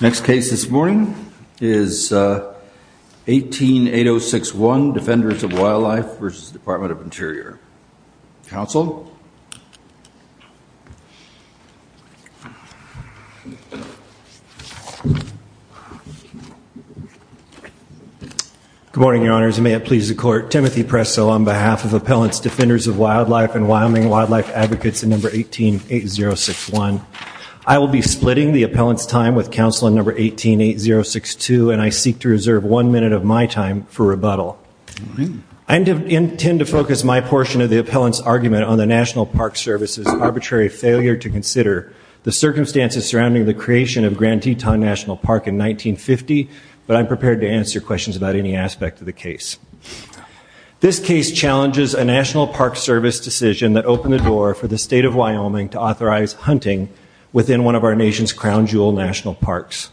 Next case this morning is 18-8061 Defenders of Wildlife v. Dept. of Interior. Counsel? Good morning, Your Honors. May it please the Court, Timothy Presso on behalf of Appellants Defenders of Wildlife and Wyoming Wildlife Advocates in number 18-8061. I will be splitting the appellant's time with counsel in number 18-8062 and I seek to reserve one minute of my time for rebuttal. I intend to focus my portion of the appellant's argument on the National Park Service's arbitrary failure to consider the circumstances surrounding the creation of Grand Teton National Park in 1950, but I'm prepared to answer questions about any aspect of the case. This case challenges a National Park Service decision that opened the door for the State of Wyoming to authorize hunting within one of our nation's crown jewel national parks.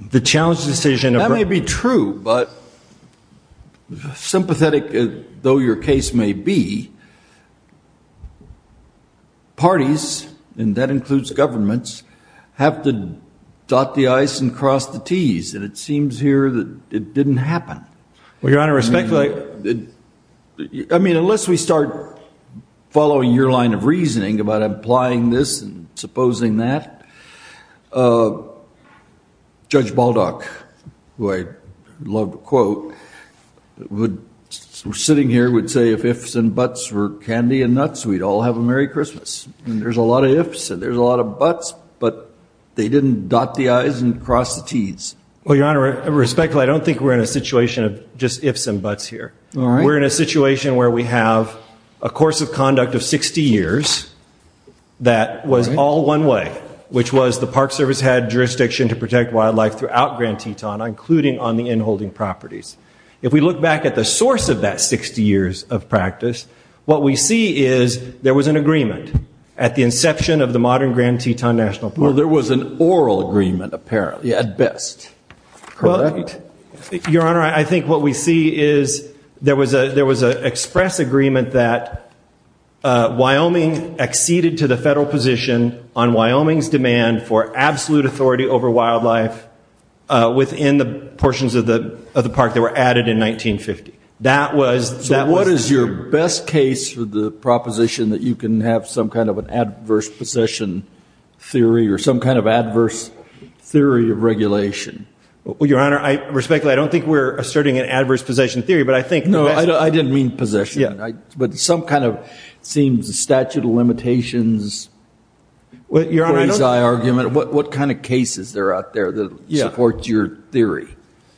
The challenge decision of... Parties, and that includes governments, have to dot the i's and cross the t's and it seems here that it didn't happen. Well, Your Honor, respectfully... I mean, unless we start following your line of reasoning about implying this and supposing that, Judge Baldock, who I love to quote, sitting here would say if ifs and buts were candy and nuts, we'd all have a Merry Christmas. There's a lot of ifs and there's a lot of buts, but they didn't dot the i's and cross the t's. Well, Your Honor, respectfully, I don't think we're in a situation of just ifs and buts here. We're in a situation where we have a course of conduct of 60 years that was all one way, which was the Park Service had jurisdiction to protect wildlife throughout Grand Teton, including on the inholding properties. If we look back at the source of that 60 years of practice, what we see is there was an agreement at the inception of the modern Grand Teton National Park. Well, there was an oral agreement, apparently, at best. Well, Your Honor, I think what we see is there was a there was an express agreement that Wyoming acceded to the federal position on Wyoming's demand for absolute authority over wildlife within the portions of the of the park that were added in 1950. That was that what is your best case for the proposition that you can have some kind of an adverse possession theory or some kind of adverse theory of regulation? Well, Your Honor, respectfully, I don't think we're asserting an adverse possession theory, but I think no, I didn't mean possession, but some kind of seems a statute of limitations. Well, Your Honor, what kind of cases are out there that support your theory?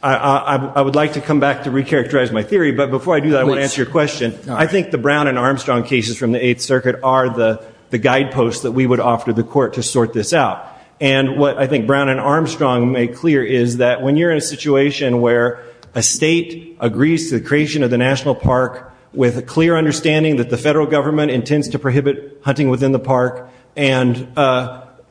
I would like to come back to recharacterize my theory. But before I do that, I want to answer your question. I think the Brown and Armstrong cases from the Eighth Circuit are the guideposts that we would offer the court to sort this out. And what I think Brown and Armstrong make clear is that when you're in a situation where a state agrees to the creation of the national park with a clear understanding that the federal government intends to prohibit hunting within the park and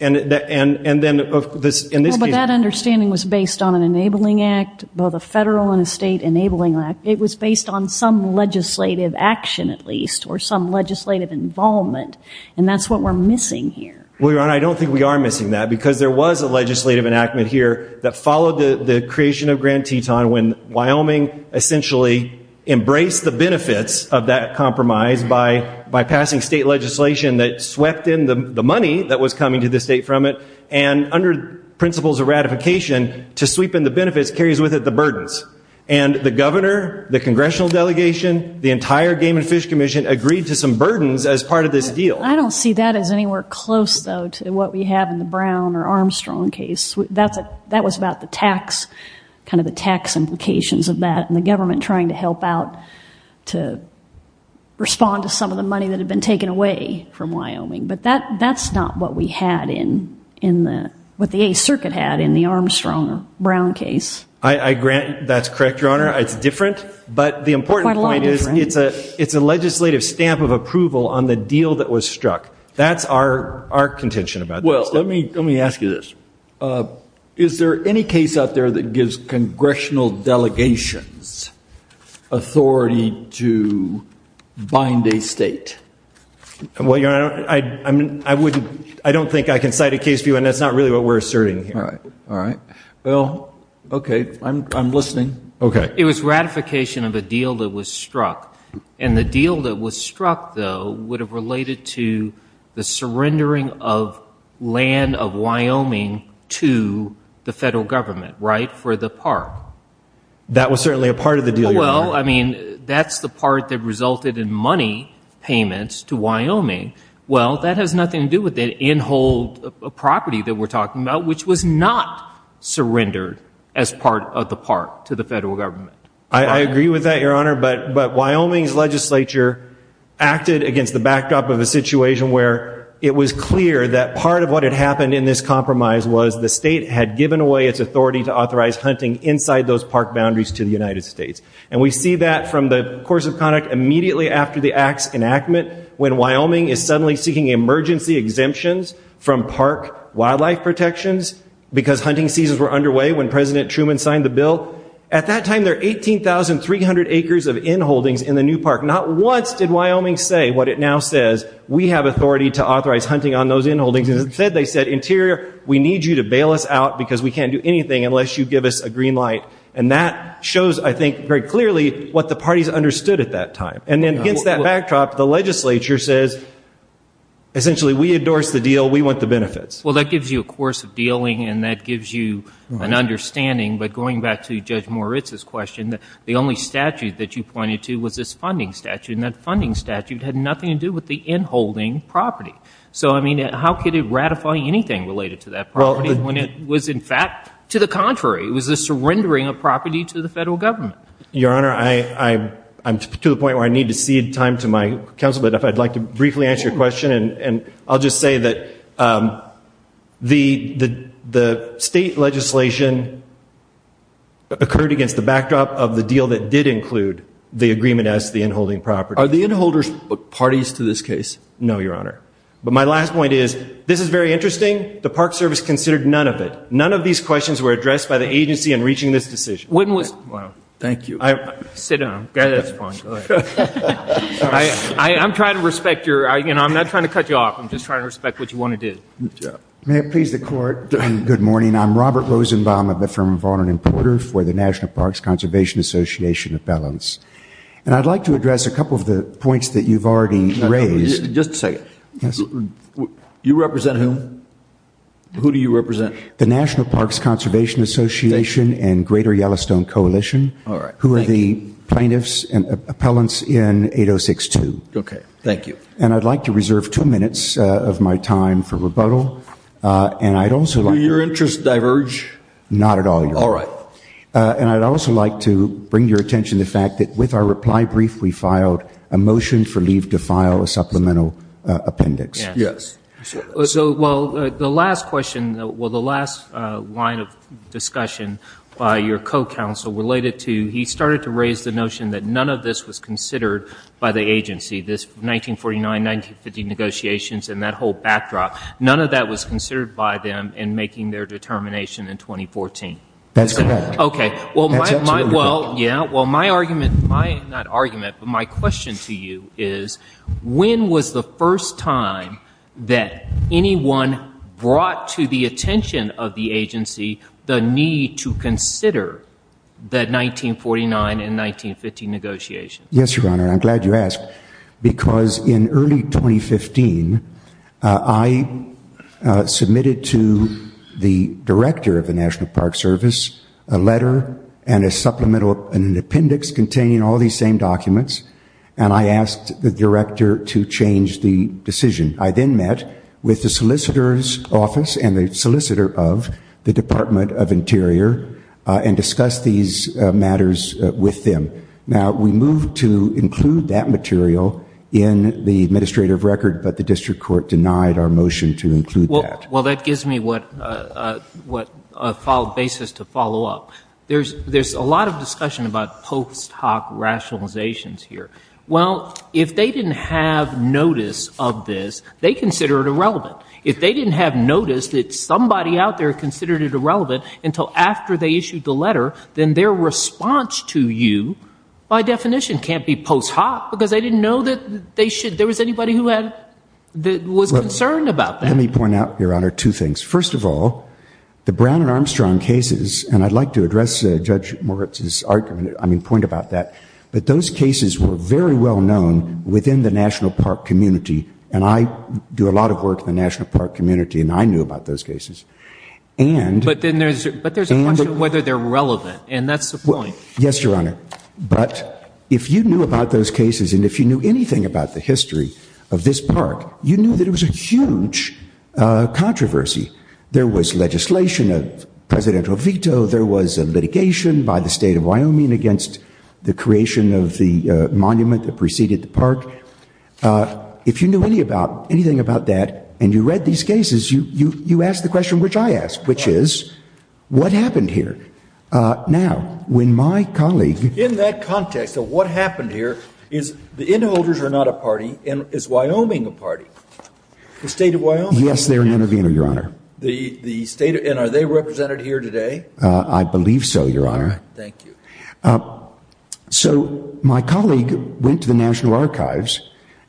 and and and then this in this case. But that understanding was based on an enabling act, both a federal and a state enabling act. It was based on some legislative action, at least, or some legislative involvement. And that's what we're missing here. Well, Your Honor, I don't think we are missing that because there was a legislative enactment here that followed the creation of Grand Teton when Wyoming essentially embraced the benefits of that compromise by by passing state legislation that swept in the money that was coming to the state from it and under principles of ratification to sweep in the benefits carries with it the burdens. And the governor, the congressional delegation, the entire Game and Fish Commission agreed to some burdens as part of this deal. I don't see that as anywhere close, though, to what we have in the Brown or Armstrong case. That's that was about the tax, kind of the tax implications of that and the government trying to help out to respond to some of the money that had been taken away from Wyoming. But that that's not what we had in in what the 8th Circuit had in the Armstrong Brown case. I grant that's correct, Your Honor. It's different. But the important point is it's a it's a legislative stamp of approval on the deal that was struck. That's our our contention about. Well, let me let me ask you this. Is there any case out there that gives congressional delegations authority to bind a state? Well, you know, I mean, I wouldn't I don't think I can cite a case for you. And that's not really what we're asserting. All right. All right. Well, OK, I'm I'm listening. OK. It was ratification of a deal that was struck and the deal that was struck, though, would have related to the surrendering of land of Wyoming to the federal government. Right. For the park, that was certainly a part of the deal. Well, I mean, that's the part that resulted in money payments to Wyoming. Well, that has nothing to do with the in-hold property that we're talking about, which was not surrendered as part of the park to the federal government. I agree with that, your honor. But but Wyoming's legislature acted against the backdrop of a situation where it was clear that part of what had happened in this compromise was the state had given away its authority to authorize hunting inside those park boundaries to the United States. And we see that from the course of conduct immediately after the act's enactment, when Wyoming is suddenly seeking emergency exemptions from park wildlife protections because hunting seasons were underway when President Truman signed the bill. At that time, there were 18,300 acres of in-holdings in the new park. Not once did Wyoming say what it now says. We have authority to authorize hunting on those in-holdings. Instead, they said, Interior, we need you to bail us out because we can't do anything unless you give us a green light. And that shows, I think, very clearly what the parties understood at that time. And then against that backdrop, the legislature says, essentially, we endorse the deal. We want the benefits. Well, that gives you a course of dealing and that gives you an understanding. But going back to Judge Moritz's question, the only statute that you pointed to was this funding statute. And that funding statute had nothing to do with the in-holding property. So, I mean, how could it ratify anything related to that property when it was, in fact, to the contrary, it was the surrendering of property to the federal government? Your Honor, I'm to the point where I need to cede time to my counsel, but if I could, I'd like to briefly answer your question. And I'll just say that the state legislation occurred against the backdrop of the deal that did include the agreement as to the in-holding property. Are the in-holders parties to this case? No, Your Honor. But my last point is, this is very interesting. The Park Service considered none of it. None of these questions were addressed by the agency in reaching this decision. When was... Wow. Thank you. Sit down. That's fine. Go ahead. I'm trying to respect your, you know, I'm not trying to cut you off. I'm just trying to respect what you want to do. May it please the Court. Good morning. I'm Robert Rosenbaum of the firm of Vaughan and Porter for the National Parks Conservation Association Appellants. And I'd like to address a couple of the points that you've already raised. Just a second. You represent who? Who do you represent? The plaintiffs and appellants in 806-2. Okay. Thank you. And I'd like to reserve two minutes of my time for rebuttal. And I'd also like... Do your interests diverge? Not at all, Your Honor. All right. And I'd also like to bring your attention to the fact that with our reply brief, we filed a motion for leave to file a supplemental appendix. Yes. So, well, the last question, well, the last line of discussion by your co-counsel related to, he started to raise the notion that none of this was considered by the agency. This 1949, 1950 negotiations and that whole backdrop, none of that was considered by them in making their determination in 2014. That's correct. Okay. Well, my argument, not argument, but my question to you is, when was the first time that anyone brought to the attention of the agency the need to consider the 1949 and 1950 negotiations? Yes, Your Honor. I'm glad you asked. Because in early 2015, I submitted to the director of the National Park Service a letter and a supplemental appendix containing all these same documents, and I asked the director to change the decision. I then met with the solicitor's office and the solicitor of the Department of Interior and discussed these matters with them. Now, we moved to include that material in the administrative record, but the district court denied our motion to include that. Well, that gives me what basis to follow up. There's a lot of discussion about post hoc rationalizations here. Well, if they didn't have notice of this, they consider it irrelevant. If they didn't have notice that somebody out there considered it irrelevant until after they issued the letter, then their response to you, by definition, can't be post hoc, because they didn't know that they should, there was anybody who had, that was concerned about that. Let me point out, Your Honor, two things. First of all, the Brown and Armstrong cases, and I'd like to address Judge Moritz's argument, I mean, point about that, but those cases were very well known within the National Park community, and I do a lot of work in the National Park community, and I knew about those cases. And... But then there's a question of whether they're relevant, and that's the point. Yes, Your Honor. But if you knew about those cases, and if you knew anything about the controversy, there was legislation, a presidential veto, there was a litigation by the State of Wyoming against the creation of the monument that preceded the park, if you knew anything about that, and you read these cases, you ask the question which I ask, which is, what happened here? Now, when my colleague... In that context of what happened here, is the inholders are not a party, and is Wyoming a party? The State of Wyoming? Yes, they're an innovator, Your Honor. The State of... And are they represented here today? I believe so, Your Honor. Thank you. So my colleague went to the National Archives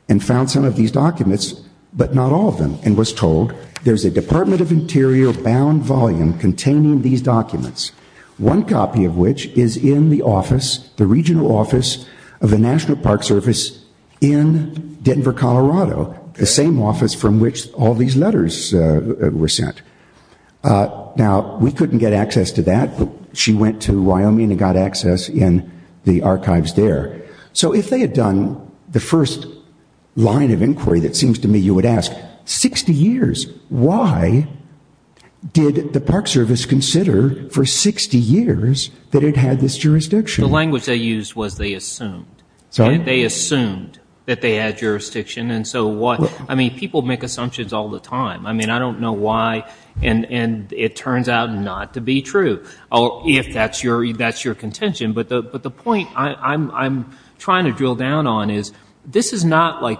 and found some of these documents, but not all of them, and was told, there's a Department of Interior bound volume containing these documents, one copy of which is in the office, the regional office of the National Park Service in Denver, Colorado, the same office from which all these letters were sent. Now, we couldn't get access to that, but she went to Wyoming and got access in the archives there. So if they had done the first line of inquiry that seems to me you would ask, 60 years, why did the Park Service consider for 60 years that it had this jurisdiction? The language they used was they assumed. Sorry? They assumed that they had jurisdiction, and so what? I mean, people make assumptions all the time. I mean, I don't know why, and it turns out not to be true, if that's your contention. But the point I'm trying to drill down on is, this is not like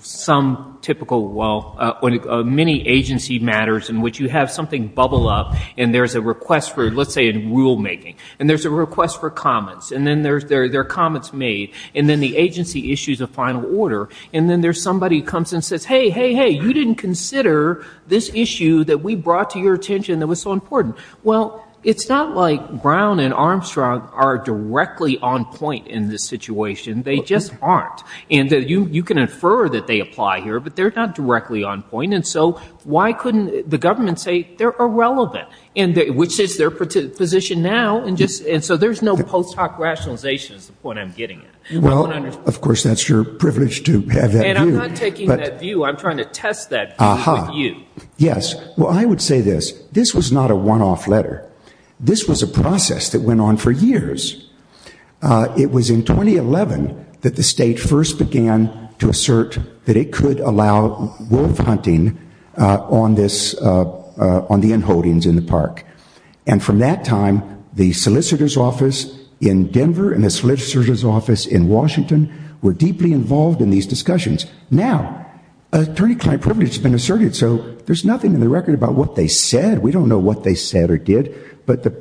some typical, well, many agency matters in which you have something bubble up, and there's a request for, let's say, rulemaking, and there's a request for comments, and then there are comments made, and then the agency issues a final order, and then there's somebody who comes and says, hey, hey, hey, you didn't consider this issue that we brought to your attention that was so important. Well, it's not like Brown and Armstrong are directly on point in this situation. They just aren't. And you can infer that they apply here, but they're not directly on point, and so why couldn't the government say they're irrelevant, which is their position now, and so there's no post hoc rationalization is the point I'm getting at. Well, of course, that's your privilege to have that view. And I'm not taking that view. I'm trying to test that view with you. Yes. Well, I would say this. This was not a one-off letter. This was a process that went on for years. It was in 2011 that the state first began to assert that it could allow wolf hunting on the inholdings in the park, and from that time, the solicitor's office in Denver and the solicitor's office in Washington were deeply involved in these discussions. Now, attorney-client privilege has been asserted, so there's nothing in the record about what they said. We don't know what they said or did, but the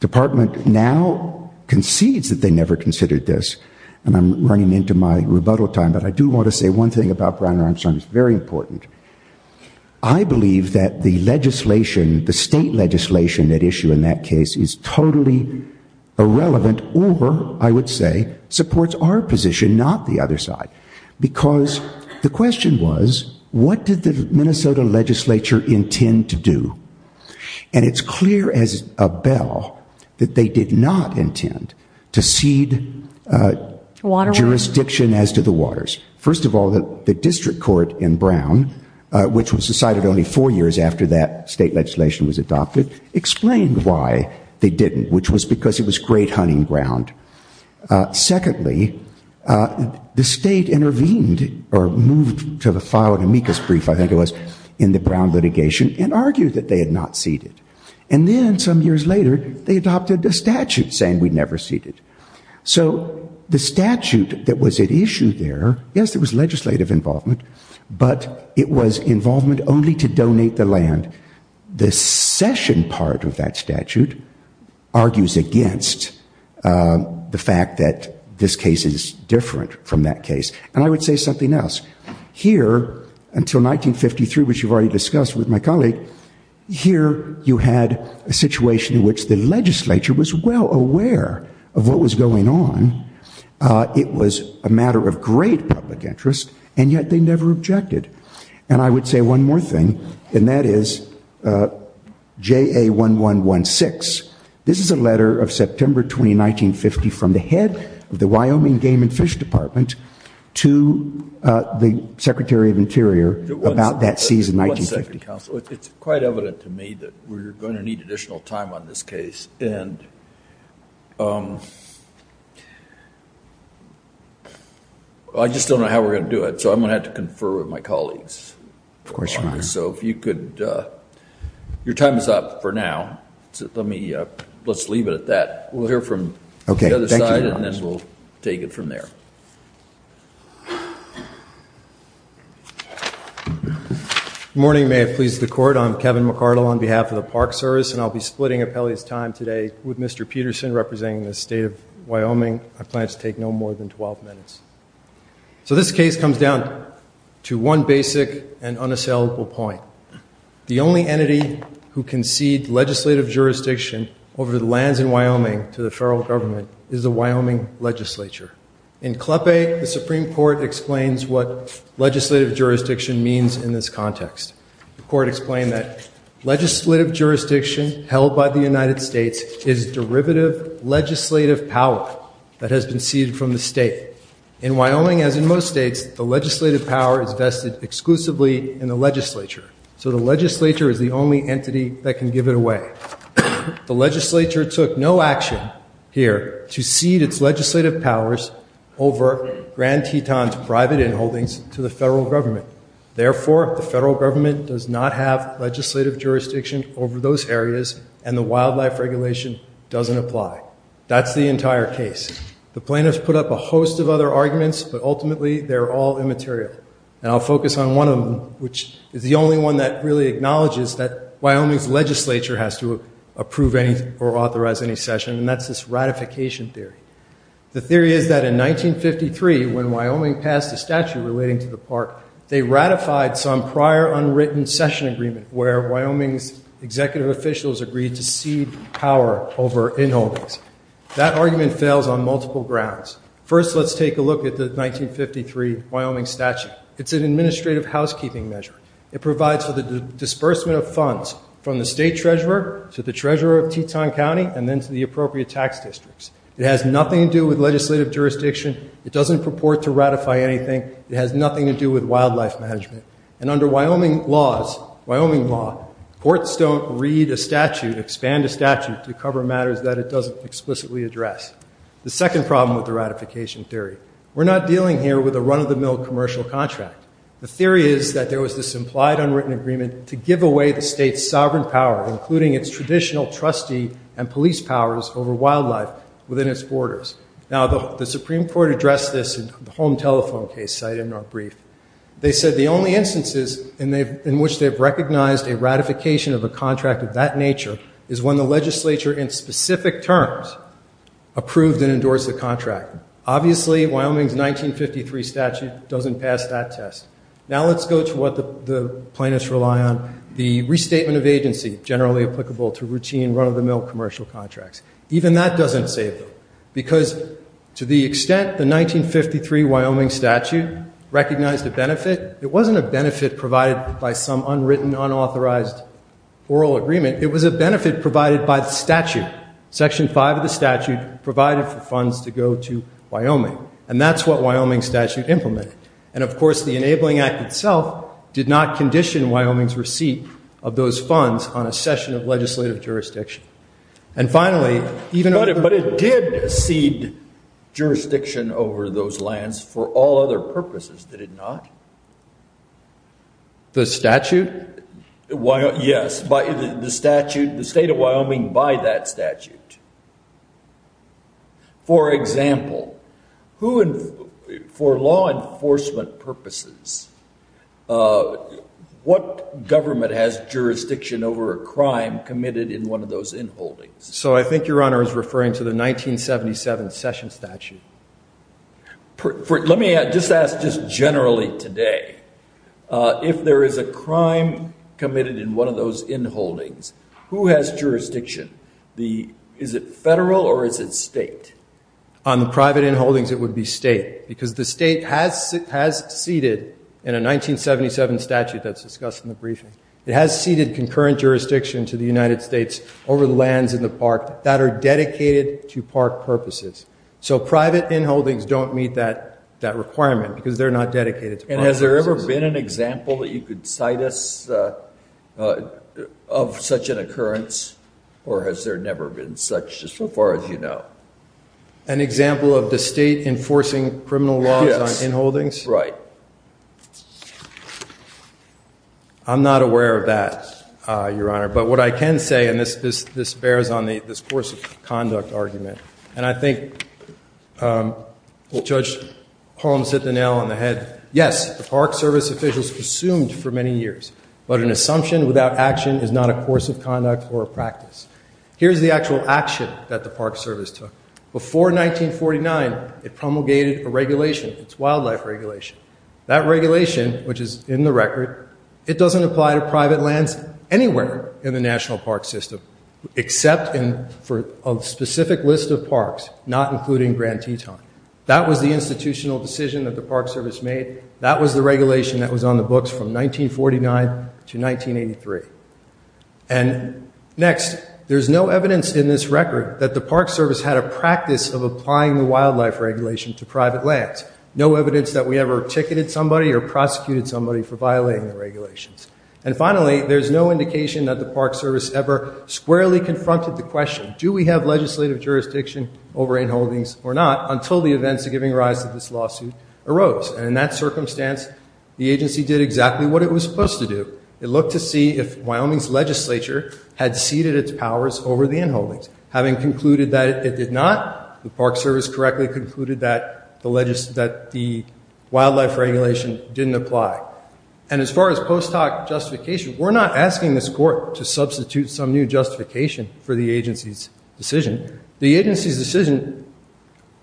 department now concedes that they never considered this, and I'm running into my rebuttal time, but I do want to say one thing about Brian Armstrong. It's very important. I believe that the legislation, the state legislation at issue in that case is totally irrelevant or, I would say, supports our position, not the other side, because the question was, what did the Minnesota legislature intend to do? And it's clear as a bell that they did not intend to cede jurisdiction as to the waters. First of all, the district court in Brown, which was decided only four years after that state legislation was adopted, explained why they didn't, which was because it was great hunting ground. Secondly, the state intervened or moved to file an amicus brief, I think it was, in the Brown litigation and argued that they had not ceded. And then some years later, they adopted a statute saying we never ceded. So the statute that was at issue there, yes, there was legislative involvement, but it was involvement only to donate the land. The session part of that statute argues against the fact that this case is different from that case. And I would say something else. Here, until 1953, which you've already discussed with my colleague, here you had a situation in which the legislature was well aware of what was going on. It was a matter of great public interest, and yet they never objected. And I would say one more thing, and that is JA1116. This is a letter of September 20, 1950, from the head of the Wyoming Game and Fish Department to the Secretary of Interior about that season, 1950. It's quite evident to me that we're going to need additional time on this case. I just don't know how we're going to do it, so I'm going to have to confer with my colleagues. So if you could, your time is up for now. Let's leave it at that. We'll hear from the other side, and then we'll take it from there. Good morning. May it please the Court. I'm Kevin McCardle on behalf of the Park Service, and I'll be splitting Appellee's time today with Mr. Peterson, representing the State of Wyoming. I plan to take no more than 12 minutes. So this case comes down to one basic and unassailable point. The only entity who can cede legislative jurisdiction over the lands in Wyoming to the federal government is the Wyoming Legislature. In CLEPE, the Supreme Court explains what legislative jurisdiction means in this context. The Court explained that legislative jurisdiction held by the United States is derivative legislative power that has been ceded from the state. In Wyoming, as in most states, the legislative power is vested exclusively in the legislature. So the legislature is the only entity that can give it away. The legislature took no action here to cede its legislative powers over Grand Teton's private inholdings to the federal government. Therefore, the federal government does not have legislative jurisdiction over those areas, and the wildlife regulation doesn't apply. That's the entire case. The plaintiffs put up a host of other arguments, but ultimately they're all immaterial. And I'll focus on one of them, which is the only one that really acknowledges that Wyoming's legislature has to approve or authorize any session, and that's this ratification theory. The theory is that in 1953, when Wyoming passed a statute relating to the park, they ratified some prior unwritten session agreement where Wyoming's executive officials agreed to cede power over inholdings. That argument fails on multiple grounds. First, let's take a look at the 1953 Wyoming statute. It's an administrative housekeeping measure. It provides for the disbursement of funds from the state treasurer to the treasurer of Teton County and then to the appropriate tax districts. It has nothing to do with legislative jurisdiction. It doesn't purport to ratify anything. It has nothing to do with wildlife management. And under Wyoming laws, Wyoming law, courts don't read a statute, expand a statute to cover matters that it doesn't explicitly address. The second problem with the ratification theory, we're not dealing here with a run-of-the-mill commercial contract. The theory is that there was this implied unwritten agreement to give away the state's sovereign power, including its traditional trustee and police powers over wildlife within its borders. Now, the Supreme Court addressed this in the home telephone case cited in our brief. They said the only instances in which they've recognized a ratification of a contract of that nature is when the legislature in specific terms approved and endorsed the contract. Obviously, Wyoming's 1953 statute doesn't pass that test. Now let's go to what the plaintiffs rely on, the restatement of agency generally applicable to routine run-of-the-mill commercial contracts. Even that doesn't save them because to the extent the 1953 Wyoming statute recognized a benefit, it wasn't a benefit provided by some unwritten, unauthorized oral agreement. It was a benefit provided by the statute. Section 5 of the statute provided for funds to go to Wyoming, and that's what Wyoming's statute implemented. And of course, the Enabling Act itself did not condition Wyoming's receipt of those funds on a session of legislative jurisdiction. And finally, even... But it did cede jurisdiction over those lands for all other purposes, did it not? The statute? Yes, the state of Wyoming by that statute. For example, for law enforcement purposes, what government has jurisdiction over a crime committed in one of those in-holdings? So I think your Honor is referring to the 1977 session statute. Let me just ask just generally today, if there is a crime committed in one of those in-holdings, who has jurisdiction? Is it federal or is it state? On the private in-holdings, it would be state because the state has ceded, in a 1977 statute that's discussed in the briefing, it has ceded concurrent jurisdiction to the United States over the lands in the park that are dedicated to park purposes. So private in-holdings don't meet that requirement because they're not dedicated to park purposes. And has there ever been an example that you could cite us of such an occurrence, or has there never been such, just so far as you know? An example of the state enforcing criminal laws on in-holdings? Yes, right. I'm not aware of that, Your Honor. But what I can say, and this bears on this course of conduct argument, and I think Judge Holmes hit the nail on the head. Yes, the Park Service officials presumed for many years, but an assumption without action is not a course of conduct or a practice. Here's the actual action that the Park Service took. Before 1949, it promulgated a regulation, its wildlife regulation. That regulation, which is in the record, it doesn't apply to private lands anywhere in the national park system, except for a specific list of parks, not including Grand Teton. That was the institutional decision that the Park Service made. That was the regulation that was on the books from 1949 to 1983. And next, there's no evidence in this record that the Park Service had a practice of applying the wildlife regulation to private lands. No evidence that we ever ticketed somebody or prosecuted somebody for violating the regulations. And finally, there's no indication that the Park Service ever squarely confronted the question, do we have legislative jurisdiction over in-holdings or not, until the events of giving rise to this lawsuit arose. And in that circumstance, the agency did exactly what it was supposed to do. It looked to see if Wyoming's legislature had ceded its powers over the in-holdings. Having concluded that it did not, the Park Service correctly concluded that the wildlife regulation didn't apply. And as far as post hoc justification, we're not asking this court to substitute some new justification for the agency's decision. The agency's decision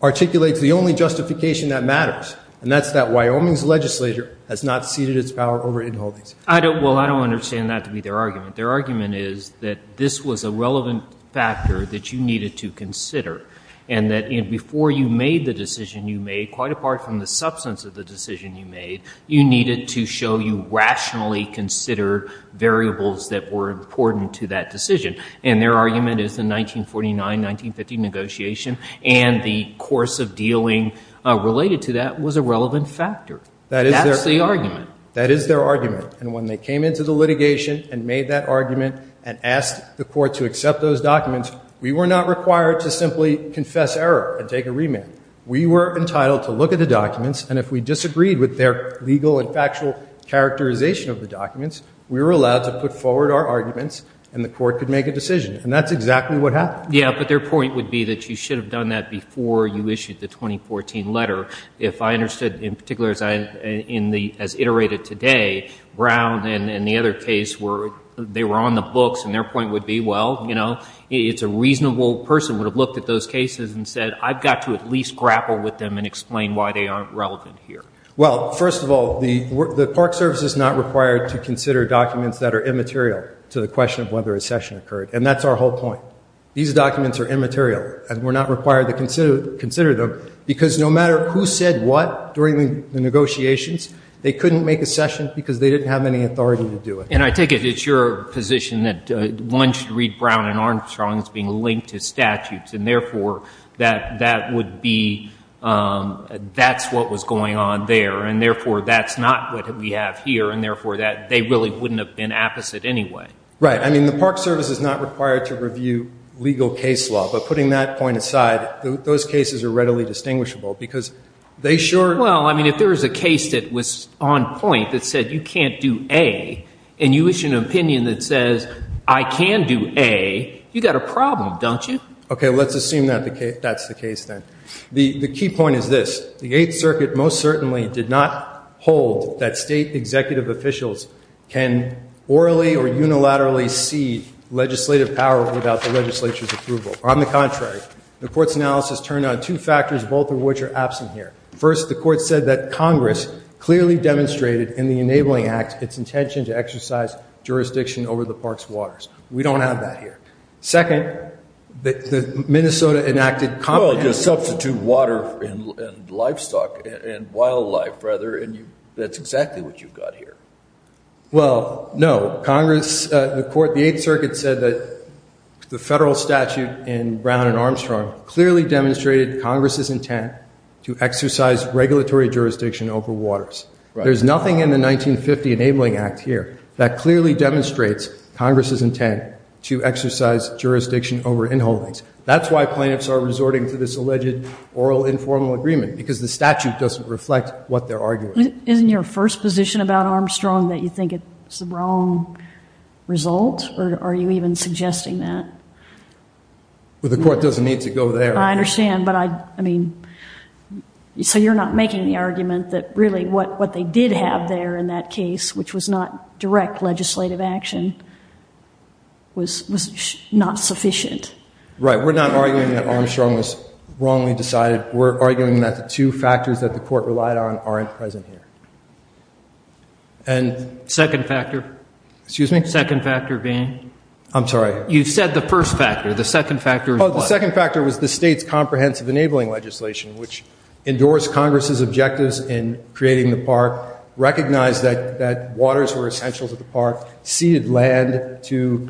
articulates the only justification that matters, and that's that Wyoming's legislature has not ceded its power over in-holdings. Well, I don't understand that to be their argument. Their argument is that this was a relevant factor that you needed to consider, and that before you made the decision you made, quite apart from the substance of the decision you made, you needed to show you rationally considered variables that were important to that decision. And their argument is the 1949-1950 negotiation, and the course of dealing related to that was a relevant factor. That's the argument. That is their argument. And when they came into the litigation and made that argument and asked the court to accept those documents, we were not required to simply confess error and take a remand. We were entitled to look at the documents, and if we disagreed with their legal and factual characterization of the documents, we were allowed to put forward our arguments, and the court could make a decision. And that's exactly what happened. Yeah, but their point would be that you should have done that before you issued the 2014 letter. If I understood in particular as I, in the, as iterated today, Brown and the other case where they were on the books, and their point would be, well, you know, it's a reasonable person would have looked at those cases and said, I've got to at least grapple with them and explain why they aren't relevant here. Well, first of all, the Park Service is not required to consider documents that are immaterial to the question of whether a session occurred, and that's our whole point. These documents are immaterial, and we're not required to consider them, because no matter who said what during the negotiations, they couldn't make a session because they didn't have any authority to do it. And I take it it's your position that one should read Brown and Armstrong as being linked to statutes, and therefore, that that would be, that's what was going on there, and therefore, that's not what we have here, and therefore, that they really wouldn't have been apposite anyway. Right. I mean, the Park Service is not required to review legal case law, but putting that point aside, those cases are readily distinguishable, because they sure are. Well, I mean, if there was a case that was on point that said, you can't do A, and you issue an opinion that says, I can do A, you've got a problem, don't you? Okay. Let's assume that that's the case, then. The key point is this. The Eighth Circuit most certainly did not hold that State executive officials can orally or unilaterally see legislative power without the legislature's approval. On the contrary, the Court's analysis turned on two factors, both of which are absent here. First, the Court said that Congress clearly demonstrated in the Enabling Act its intention to exercise jurisdiction over the park's waters. We don't have that here. Second, the Minnesota enacted comprehensive Well, just substitute water and livestock and wildlife, rather, and that's exactly what you've got here. Well, no. Congress, the Court, the Eighth Circuit said that the federal statute in Brown and Armstrong clearly demonstrated Congress's intent to exercise regulatory jurisdiction over waters. Right. There's nothing in the 1950 Enabling Act here that clearly demonstrates Congress's intent to exercise jurisdiction over inholdings. That's why plaintiffs are resorting to this alleged oral informal agreement, because the statute doesn't reflect what they're arguing. Isn't your first position about Armstrong that you think it's the wrong result, or are you even suggesting that? Well, the Court doesn't need to go there. I understand, but I mean, so you're not making the argument that really what they did have there in that case, which was not direct legislative action, was not sufficient? Right. We're not arguing that Armstrong was wrongly decided. We're arguing that the two factors that the Court relied on aren't present here. And Second factor? Excuse me? Second factor being? I'm sorry? You've said the first factor. The second factor is what? The second factor was the state's comprehensive enabling legislation, which endorsed Congress's objectives in creating the park, recognized that waters were essential to the park, ceded land to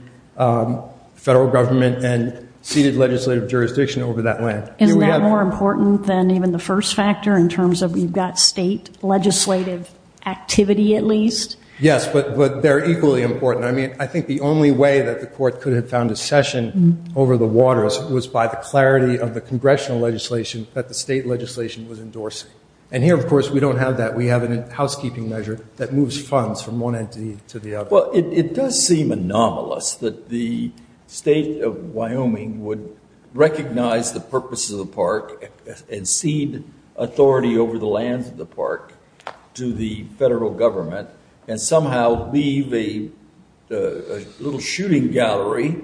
federal government, and ceded legislative jurisdiction over that land. Isn't that more important than even the first factor in terms of you've got state legislative activity at least? Yes, but they're equally important. I mean, I think the only way that the Court could have found a session over the waters was by the clarity of the congressional legislation that the state legislation was endorsing. And here, of course, we don't have that. We have a housekeeping measure that moves funds from one entity to the other. Well, it does seem anomalous that the state of Wyoming would recognize the purpose of the park and cede authority over the lands of the park to the federal government and somehow leave a little shooting gallery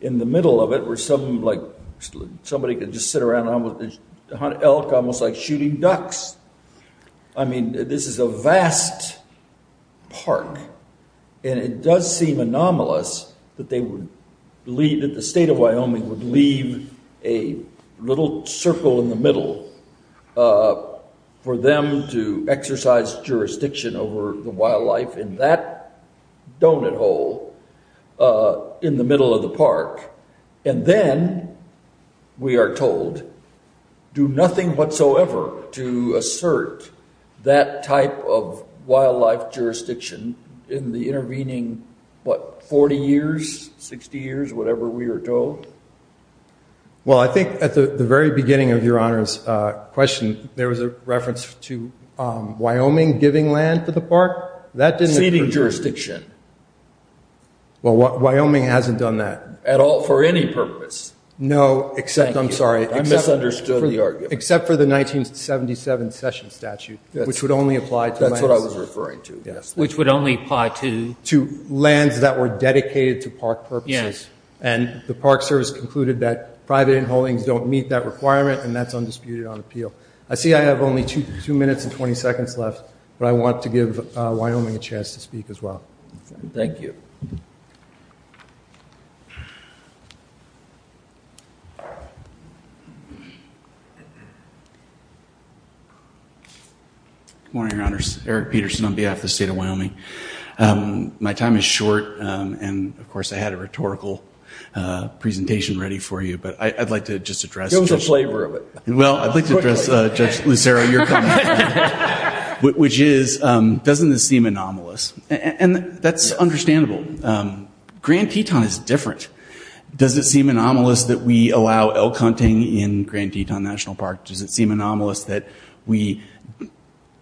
in the middle of it where somebody can just sit around and hunt elk almost like shooting ducks. I mean, this is a vast park. And it does seem anomalous that the state of Wyoming would leave a little circle in the middle for them to exercise jurisdiction over the wildlife in that donut hole in the middle of the park. And then we are told, do nothing whatsoever to assert that type of wildlife jurisdiction in the intervening, what, 40 years, 60 years, whatever we are told? Well, I think at the very beginning of Your Honor's question, there was a reference to Wyoming giving land to the park. That didn't occur to me. Ceding jurisdiction. Well, Wyoming hasn't done that. At all for any purpose. No, except, I'm sorry. Thank you. I misunderstood the argument. Except for the 1977 session statute, which would only apply to the land. That's what I was referring to. Which would only apply to? To lands that were dedicated to park purposes. And the Park Service concluded that private in-holdings don't meet that requirement, and that's undisputed on appeal. I see I have only two minutes and 20 seconds left, but I want to give Wyoming a chance to speak as well. Thank you. Good morning, Your Honors. Eric Peterson on behalf of the state of Wyoming. My time is short, and of course, I had a rhetorical presentation ready for you, but I'd like to just address- Give us a flavor of it. Well, I'd like to address Judge Lucero, your comment. Which is, doesn't this seem anomalous? And that's understandable. Grand Teton is different. Does it seem anomalous that we allow elk hunting in Grand Teton National Park? Does it seem anomalous that we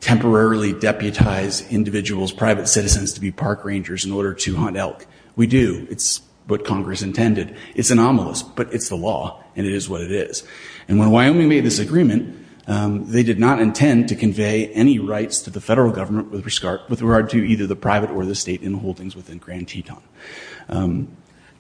temporarily deputize individuals, private citizens, to be park rangers in order to hunt elk? We do. It's what Congress intended. It's anomalous, but it's the law, and it is what it is. And when Wyoming made this agreement, they did not intend to convey any rights to the federal government with regard to either the private or the state in holdings within Grand Teton.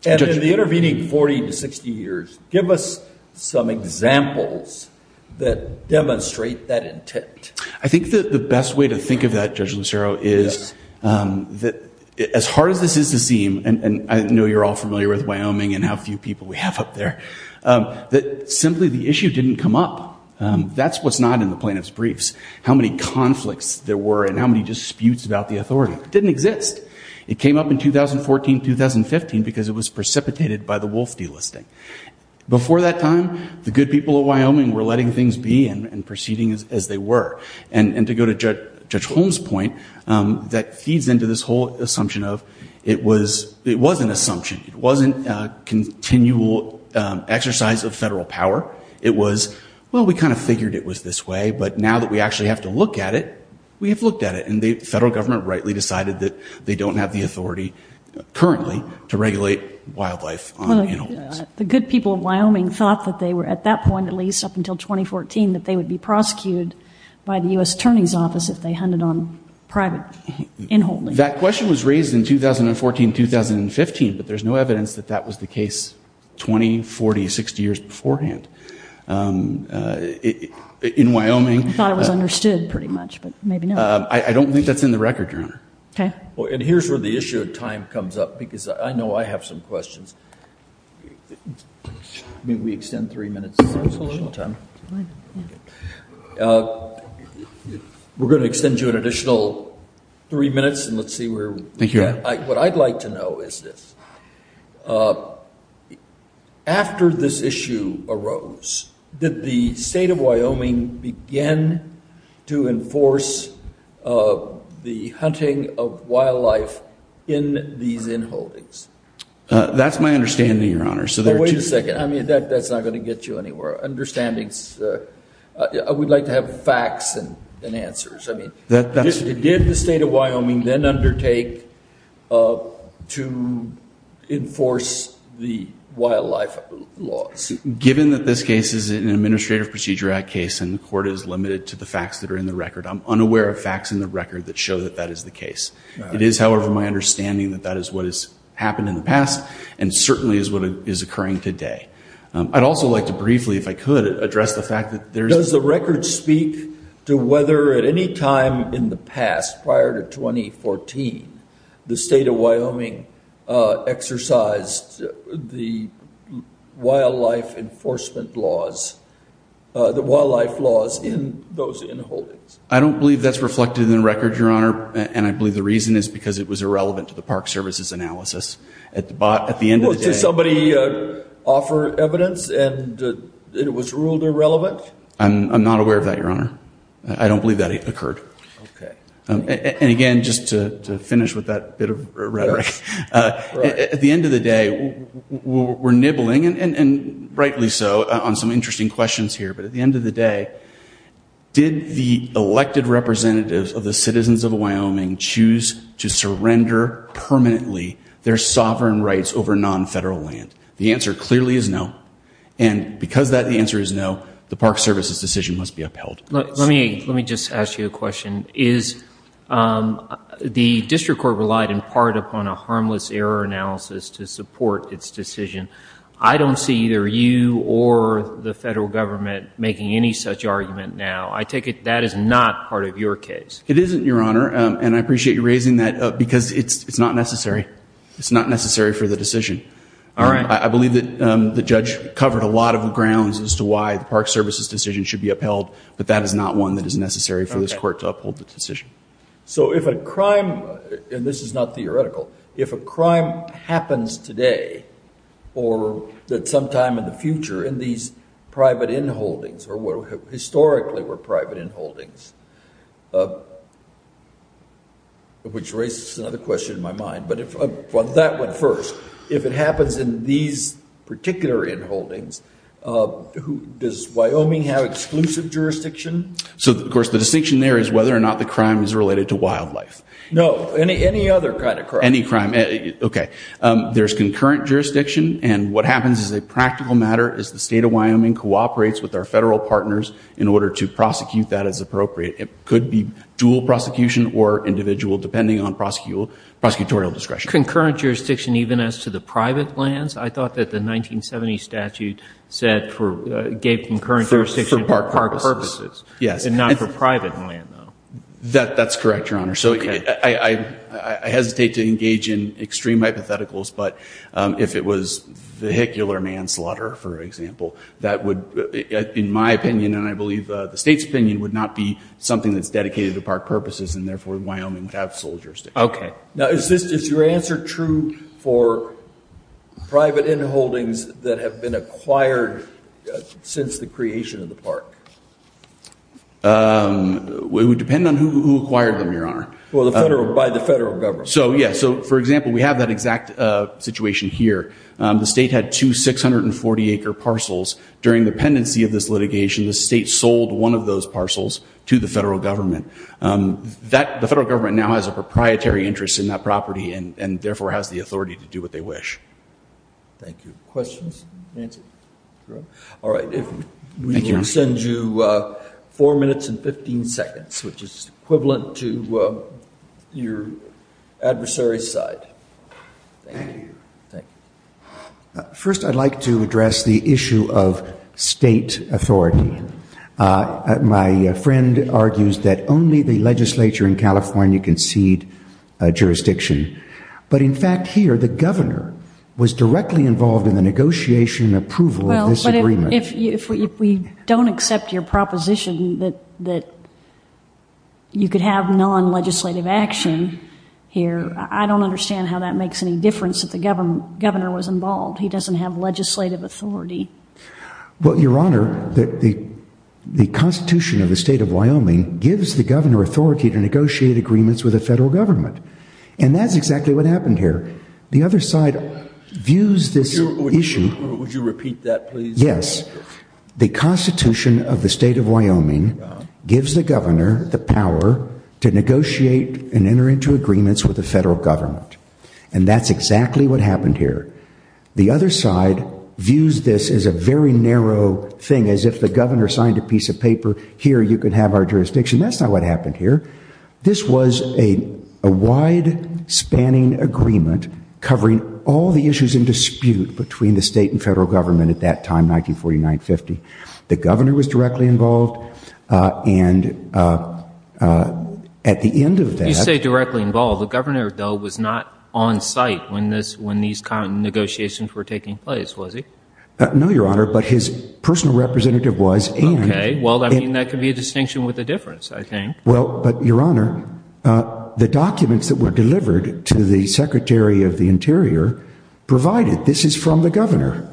And in the intervening 40 to 60 years, give us some examples that demonstrate that intent. I think the best way to think of that, Judge Lucero, is that as hard as this is to seem, and I know you're all familiar with Wyoming and how few people we have up there, that simply the issue didn't come up. That's what's not in the plaintiff's briefs. How many conflicts there were and how many disputes about the authority. It didn't exist. It came up in 2014, 2015, because it was precipitated by the wolf delisting. Before that time, the good people of Wyoming were letting things be and proceeding as they were. And to go to Judge Holm's point, that feeds into this whole assumption of it was an assumption. It wasn't a continual exercise of federal power. It was, well, we kind of figured it was this way, but now that we actually have to look at it, we have looked at it. And the federal government rightly decided that they don't have the authority currently to regulate wildlife on in-holdings. The good people of Wyoming thought that they were, at that point, at least up until 2014, that they would be prosecuted by the U.S. Attorney's Office if they hunted on private in-holdings. That question was raised in 2014, 2015, but there's no evidence that that was the case 20, 40, 60 years beforehand. In Wyoming... I thought it was understood pretty much, but maybe not. I don't think that's in the record, Your Honor. Okay. And here's where the issue of time comes up, because I know I have some questions. I mean, we extend three minutes, so that's a little time. We're going to extend you an additional three minutes, and let's see where... Thank you, Your Honor. What I'd like to know is this. After this issue arose, did the state of Wyoming begin to enforce the hunting of wildlife in these in-holdings? That's my understanding, Your Honor, so there are two... Oh, wait a second. I mean, that's not going to get you anywhere. Understandings... I would like to have facts and answers. Did the state of Wyoming then undertake to enforce the wildlife laws? Given that this case is an Administrative Procedure Act case, and the court is limited to the facts that are in the record, I'm unaware of facts in the record that show that that is the case. It is, however, my understanding that that is what has happened in the past, and certainly is what is occurring today. I'd also like to briefly, if I could, address the fact that there's... ...to whether at any time in the past, prior to 2014, the state of Wyoming exercised the wildlife enforcement laws, the wildlife laws in those in-holdings. I don't believe that's reflected in the record, Your Honor, and I believe the reason is because it was irrelevant to the Park Services analysis. At the end of the day... Did somebody offer evidence, and it was ruled irrelevant? I'm not aware of that, Your Honor. I don't believe that occurred. And again, just to finish with that bit of rhetoric, at the end of the day, we're nibbling, and rightly so, on some interesting questions here, but at the end of the day, did the elected representatives of the citizens of Wyoming choose to surrender permanently their sovereign rights over non-federal land? The answer clearly is no, and because that the answer is no, the Park Services decision must be upheld. Let me just ask you a question. Is... The district court relied in part upon a harmless error analysis to support its decision. I don't see either you or the federal government making any such argument now. I take it that is not part of your case. It isn't, Your Honor, and I appreciate you raising that up because it's not necessary. It's not necessary for the decision. All right. I believe that the judge covered a lot of the grounds as to why the Park Services decision should be upheld, but that is not one that is necessary for this court to uphold the decision. So if a crime, and this is not theoretical, if a crime happens today, or that sometime in the future, in these private inholdings, or historically were private inholdings, which raises another question in my mind, but that went first. If it happens in these particular inholdings, does Wyoming have exclusive jurisdiction? So, of course, the distinction there is whether or not the crime is related to wildlife. No, any other kind of crime. Any crime. Okay. There's concurrent jurisdiction, and what happens is a practical matter is the state of Wyoming cooperates with our federal partners in order to prosecute that as appropriate. It could be dual prosecution or individual, depending on prosecutorial discretion. Concurrent jurisdiction even as to the private lands? I thought that the 1970 statute said for, gave concurrent jurisdiction to Park Purposes. Yes. And not for private land, though. That's correct, Your Honor. So I hesitate to engage in extreme hypotheticals, but if it was vehicular manslaughter, for example, that would, in my opinion, and I believe the state's opinion, would not be something that's dedicated to Park Purposes, and therefore Wyoming would have sole jurisdiction. Okay. Now, is your answer true for private in-holdings that have been acquired since the creation of the park? It would depend on who acquired them, Your Honor. Well, by the federal government. So, yes. So, for example, we have that exact situation here. The state had two 640-acre parcels. During the pendency of this litigation, the state sold one of those parcels to the federal government. That, the federal government now has a proprietary interest in that property, and therefore has the authority to do what they wish. Thank you. Questions? Answer? Drew? All right. We will send you four minutes and 15 seconds, which is equivalent to your adversary's side. Thank you. Thank you. First, I'd like to address the issue of state authority. My friend argues that only the legislature in California can cede jurisdiction. But, in fact, here the governor was directly involved in the negotiation approval of this agreement. Well, but if we don't accept your proposition that you could have non-legislative action here, I don't understand how that makes any difference if the governor was involved. He doesn't have legislative authority. Well, your honor, the Constitution of the state of Wyoming gives the governor authority to negotiate agreements with the federal government. And that's exactly what happened here. The other side views this issue. Would you repeat that, please? Yes. The Constitution of the state of Wyoming gives the governor the power to negotiate and enter into agreements with the federal government. And that's exactly what happened here. The other side views this as a very narrow thing, as if the governor signed a piece of paper, here you can have our jurisdiction. That's not what happened here. This was a wide-spanning agreement covering all the issues in dispute between the state and federal government at that time, 1949-50. The governor was directly involved. And at the end of that... You say directly involved. The governor, though, was not on site when these negotiations were taking place, was he? No, your honor, but his personal representative was. Okay, well, I mean, that could be a distinction with a difference, I think. Well, but, your honor, the documents that were delivered to the Secretary of the Interior provided this is from the governor.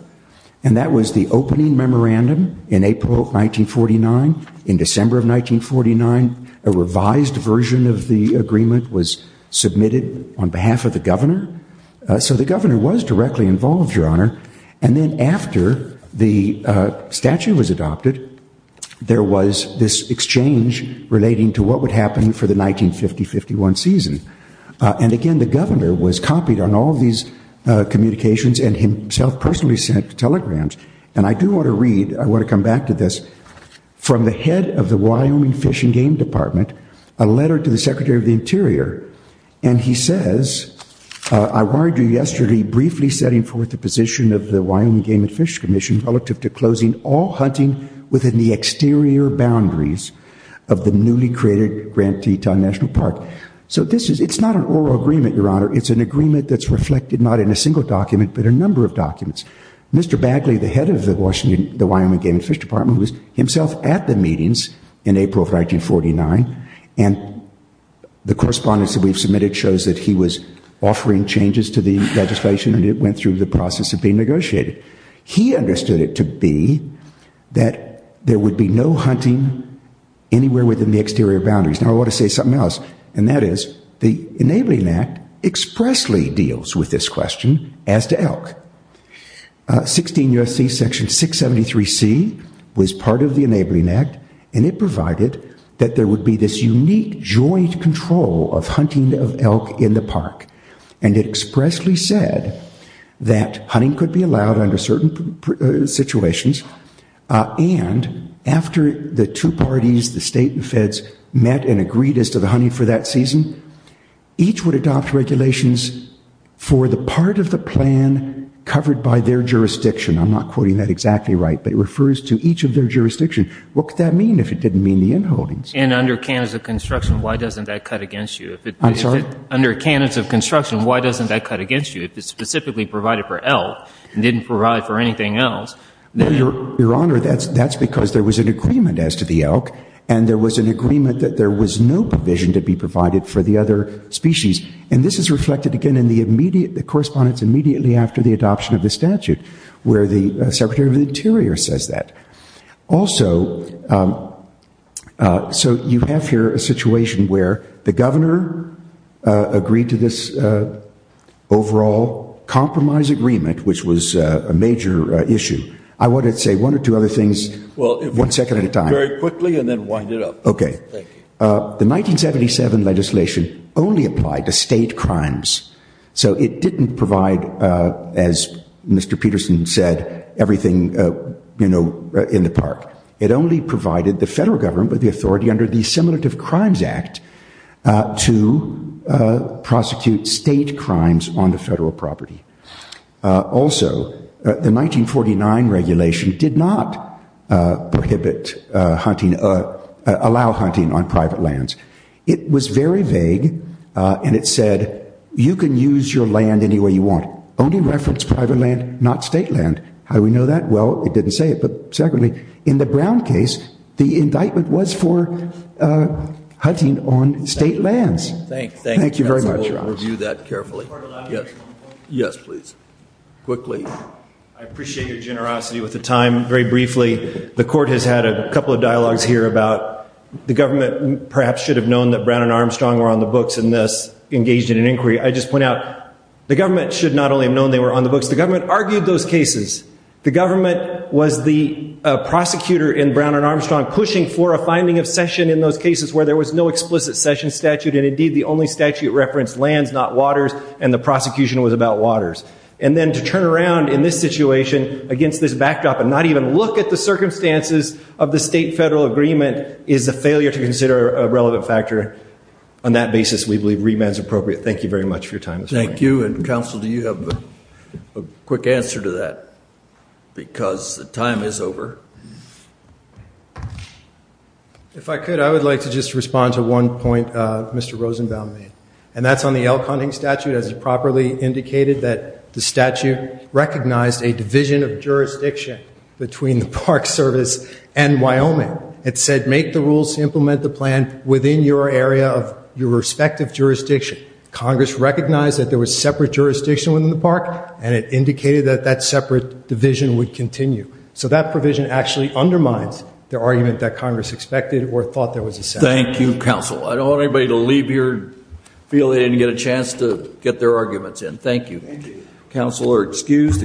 And that was the opening memorandum in April of 1949. In December of 1949, a revised version of the agreement was submitted on behalf of the governor. So the governor was directly involved, your honor. And then after the statute was adopted, there was this exchange relating to what would happen for the 1950-51 season. And again, the governor was copied on all these communications and himself personally sent telegrams. And I do want to read, I want to come back to this, from the head of the Wyoming Fish and Game Department, a letter to the Secretary of the Interior. And he says, I wired you yesterday, briefly setting forth the position of the Wyoming Game and Fish Commission relative to closing all hunting within the exterior boundaries of the newly created Grand Teton National Park. So this is, it's not an oral agreement, your honor, it's an agreement that's reflected not in a single document, but a number of documents. Mr. Bagley, the head of the Wyoming Game and Fish Department, was himself at the meetings in April of 1949. And the correspondence that we've submitted shows that he was offering changes to the legislation and it went through the process of being negotiated. He understood it to be that there would be no hunting anywhere within the exterior boundaries. Now I want to say something else, and that is, the Enabling Act expressly deals with this question as to elk. 16 U.S.C. Section 673C was part of the Enabling Act, and it provided that there would be this unique joint control of hunting of elk in the park. And it expressly said that hunting could be allowed under certain situations. And after the two parties, the state and feds, met and agreed as to the hunting for that season, each would adopt regulations for the part of the plan covered by their jurisdiction. I'm not quoting that exactly right, but it refers to each of their jurisdiction. What could that mean if it didn't mean the inholdings? And under canons of construction, why doesn't that cut against you? I'm sorry? Under canons of construction, why doesn't that cut against you? If it's specifically provided for elk, and didn't provide for anything else. No, your honor, that's because there was an agreement as to the elk, and there was an agreement that there was no provision to be provided for the other species. And this is reflected again in the correspondence immediately after the adoption of the statute, where the Secretary of the Interior says that. Also, so you have here a situation where the governor agreed to this overall compromise agreement, which was a major issue. I wanted to say one or two other things, one second at a time. Very quickly, and then wind it up. OK. The 1977 legislation only applied to state crimes. So it didn't provide, as Mr. Peterson said, everything in the park. It only provided the federal government with the authority under the Assimilative Crimes Act to prosecute state crimes on the federal property. Also, the 1949 regulation did not allow hunting on private lands. It was very vague, and it said, you can use your land any way you want. Only reference private land, not state land. How do we know that? Well, it didn't say it. But secondly, in the Brown case, the indictment was for hunting on state lands. Thank you very much, Ross. We'll review that carefully. Yes, please, quickly. I appreciate your generosity with the time. Very briefly, the court has had a couple of dialogues here about the government perhaps should have known that Brown and Armstrong were on the books and thus engaged in an inquiry. I just point out, the government should not only have known they were on the books, the government argued those cases. The government was the prosecutor in Brown and Armstrong pushing for a finding of session in those cases where there was no explicit session statute, and indeed, the only statute referenced lands, not waters, and the prosecution was about waters. And then to turn around in this situation against this backdrop and not even look at the circumstances of the state-federal agreement is a failure to consider a relevant factor. On that basis, we believe remand is appropriate. Thank you very much for your time this morning. Thank you. And counsel, do you have a quick answer to that? Because the time is over. If I could, I would like to just respond to one point Mr. Rosenbaum made. And that's on the elk hunting statute as it properly indicated that the statute recognized a division of jurisdiction between the Park Service and Wyoming. It said make the rules to implement the plan within your area of your respective jurisdiction. Congress recognized that there was separate jurisdiction within the park, and it indicated that that separate division would continue. So that provision actually undermines the argument that Congress expected or thought there was a statute. Thank you, counsel. I don't want anybody to leave here and feel they didn't get a chance to get their arguments in. Thank you. Thank you. Counsel are excused.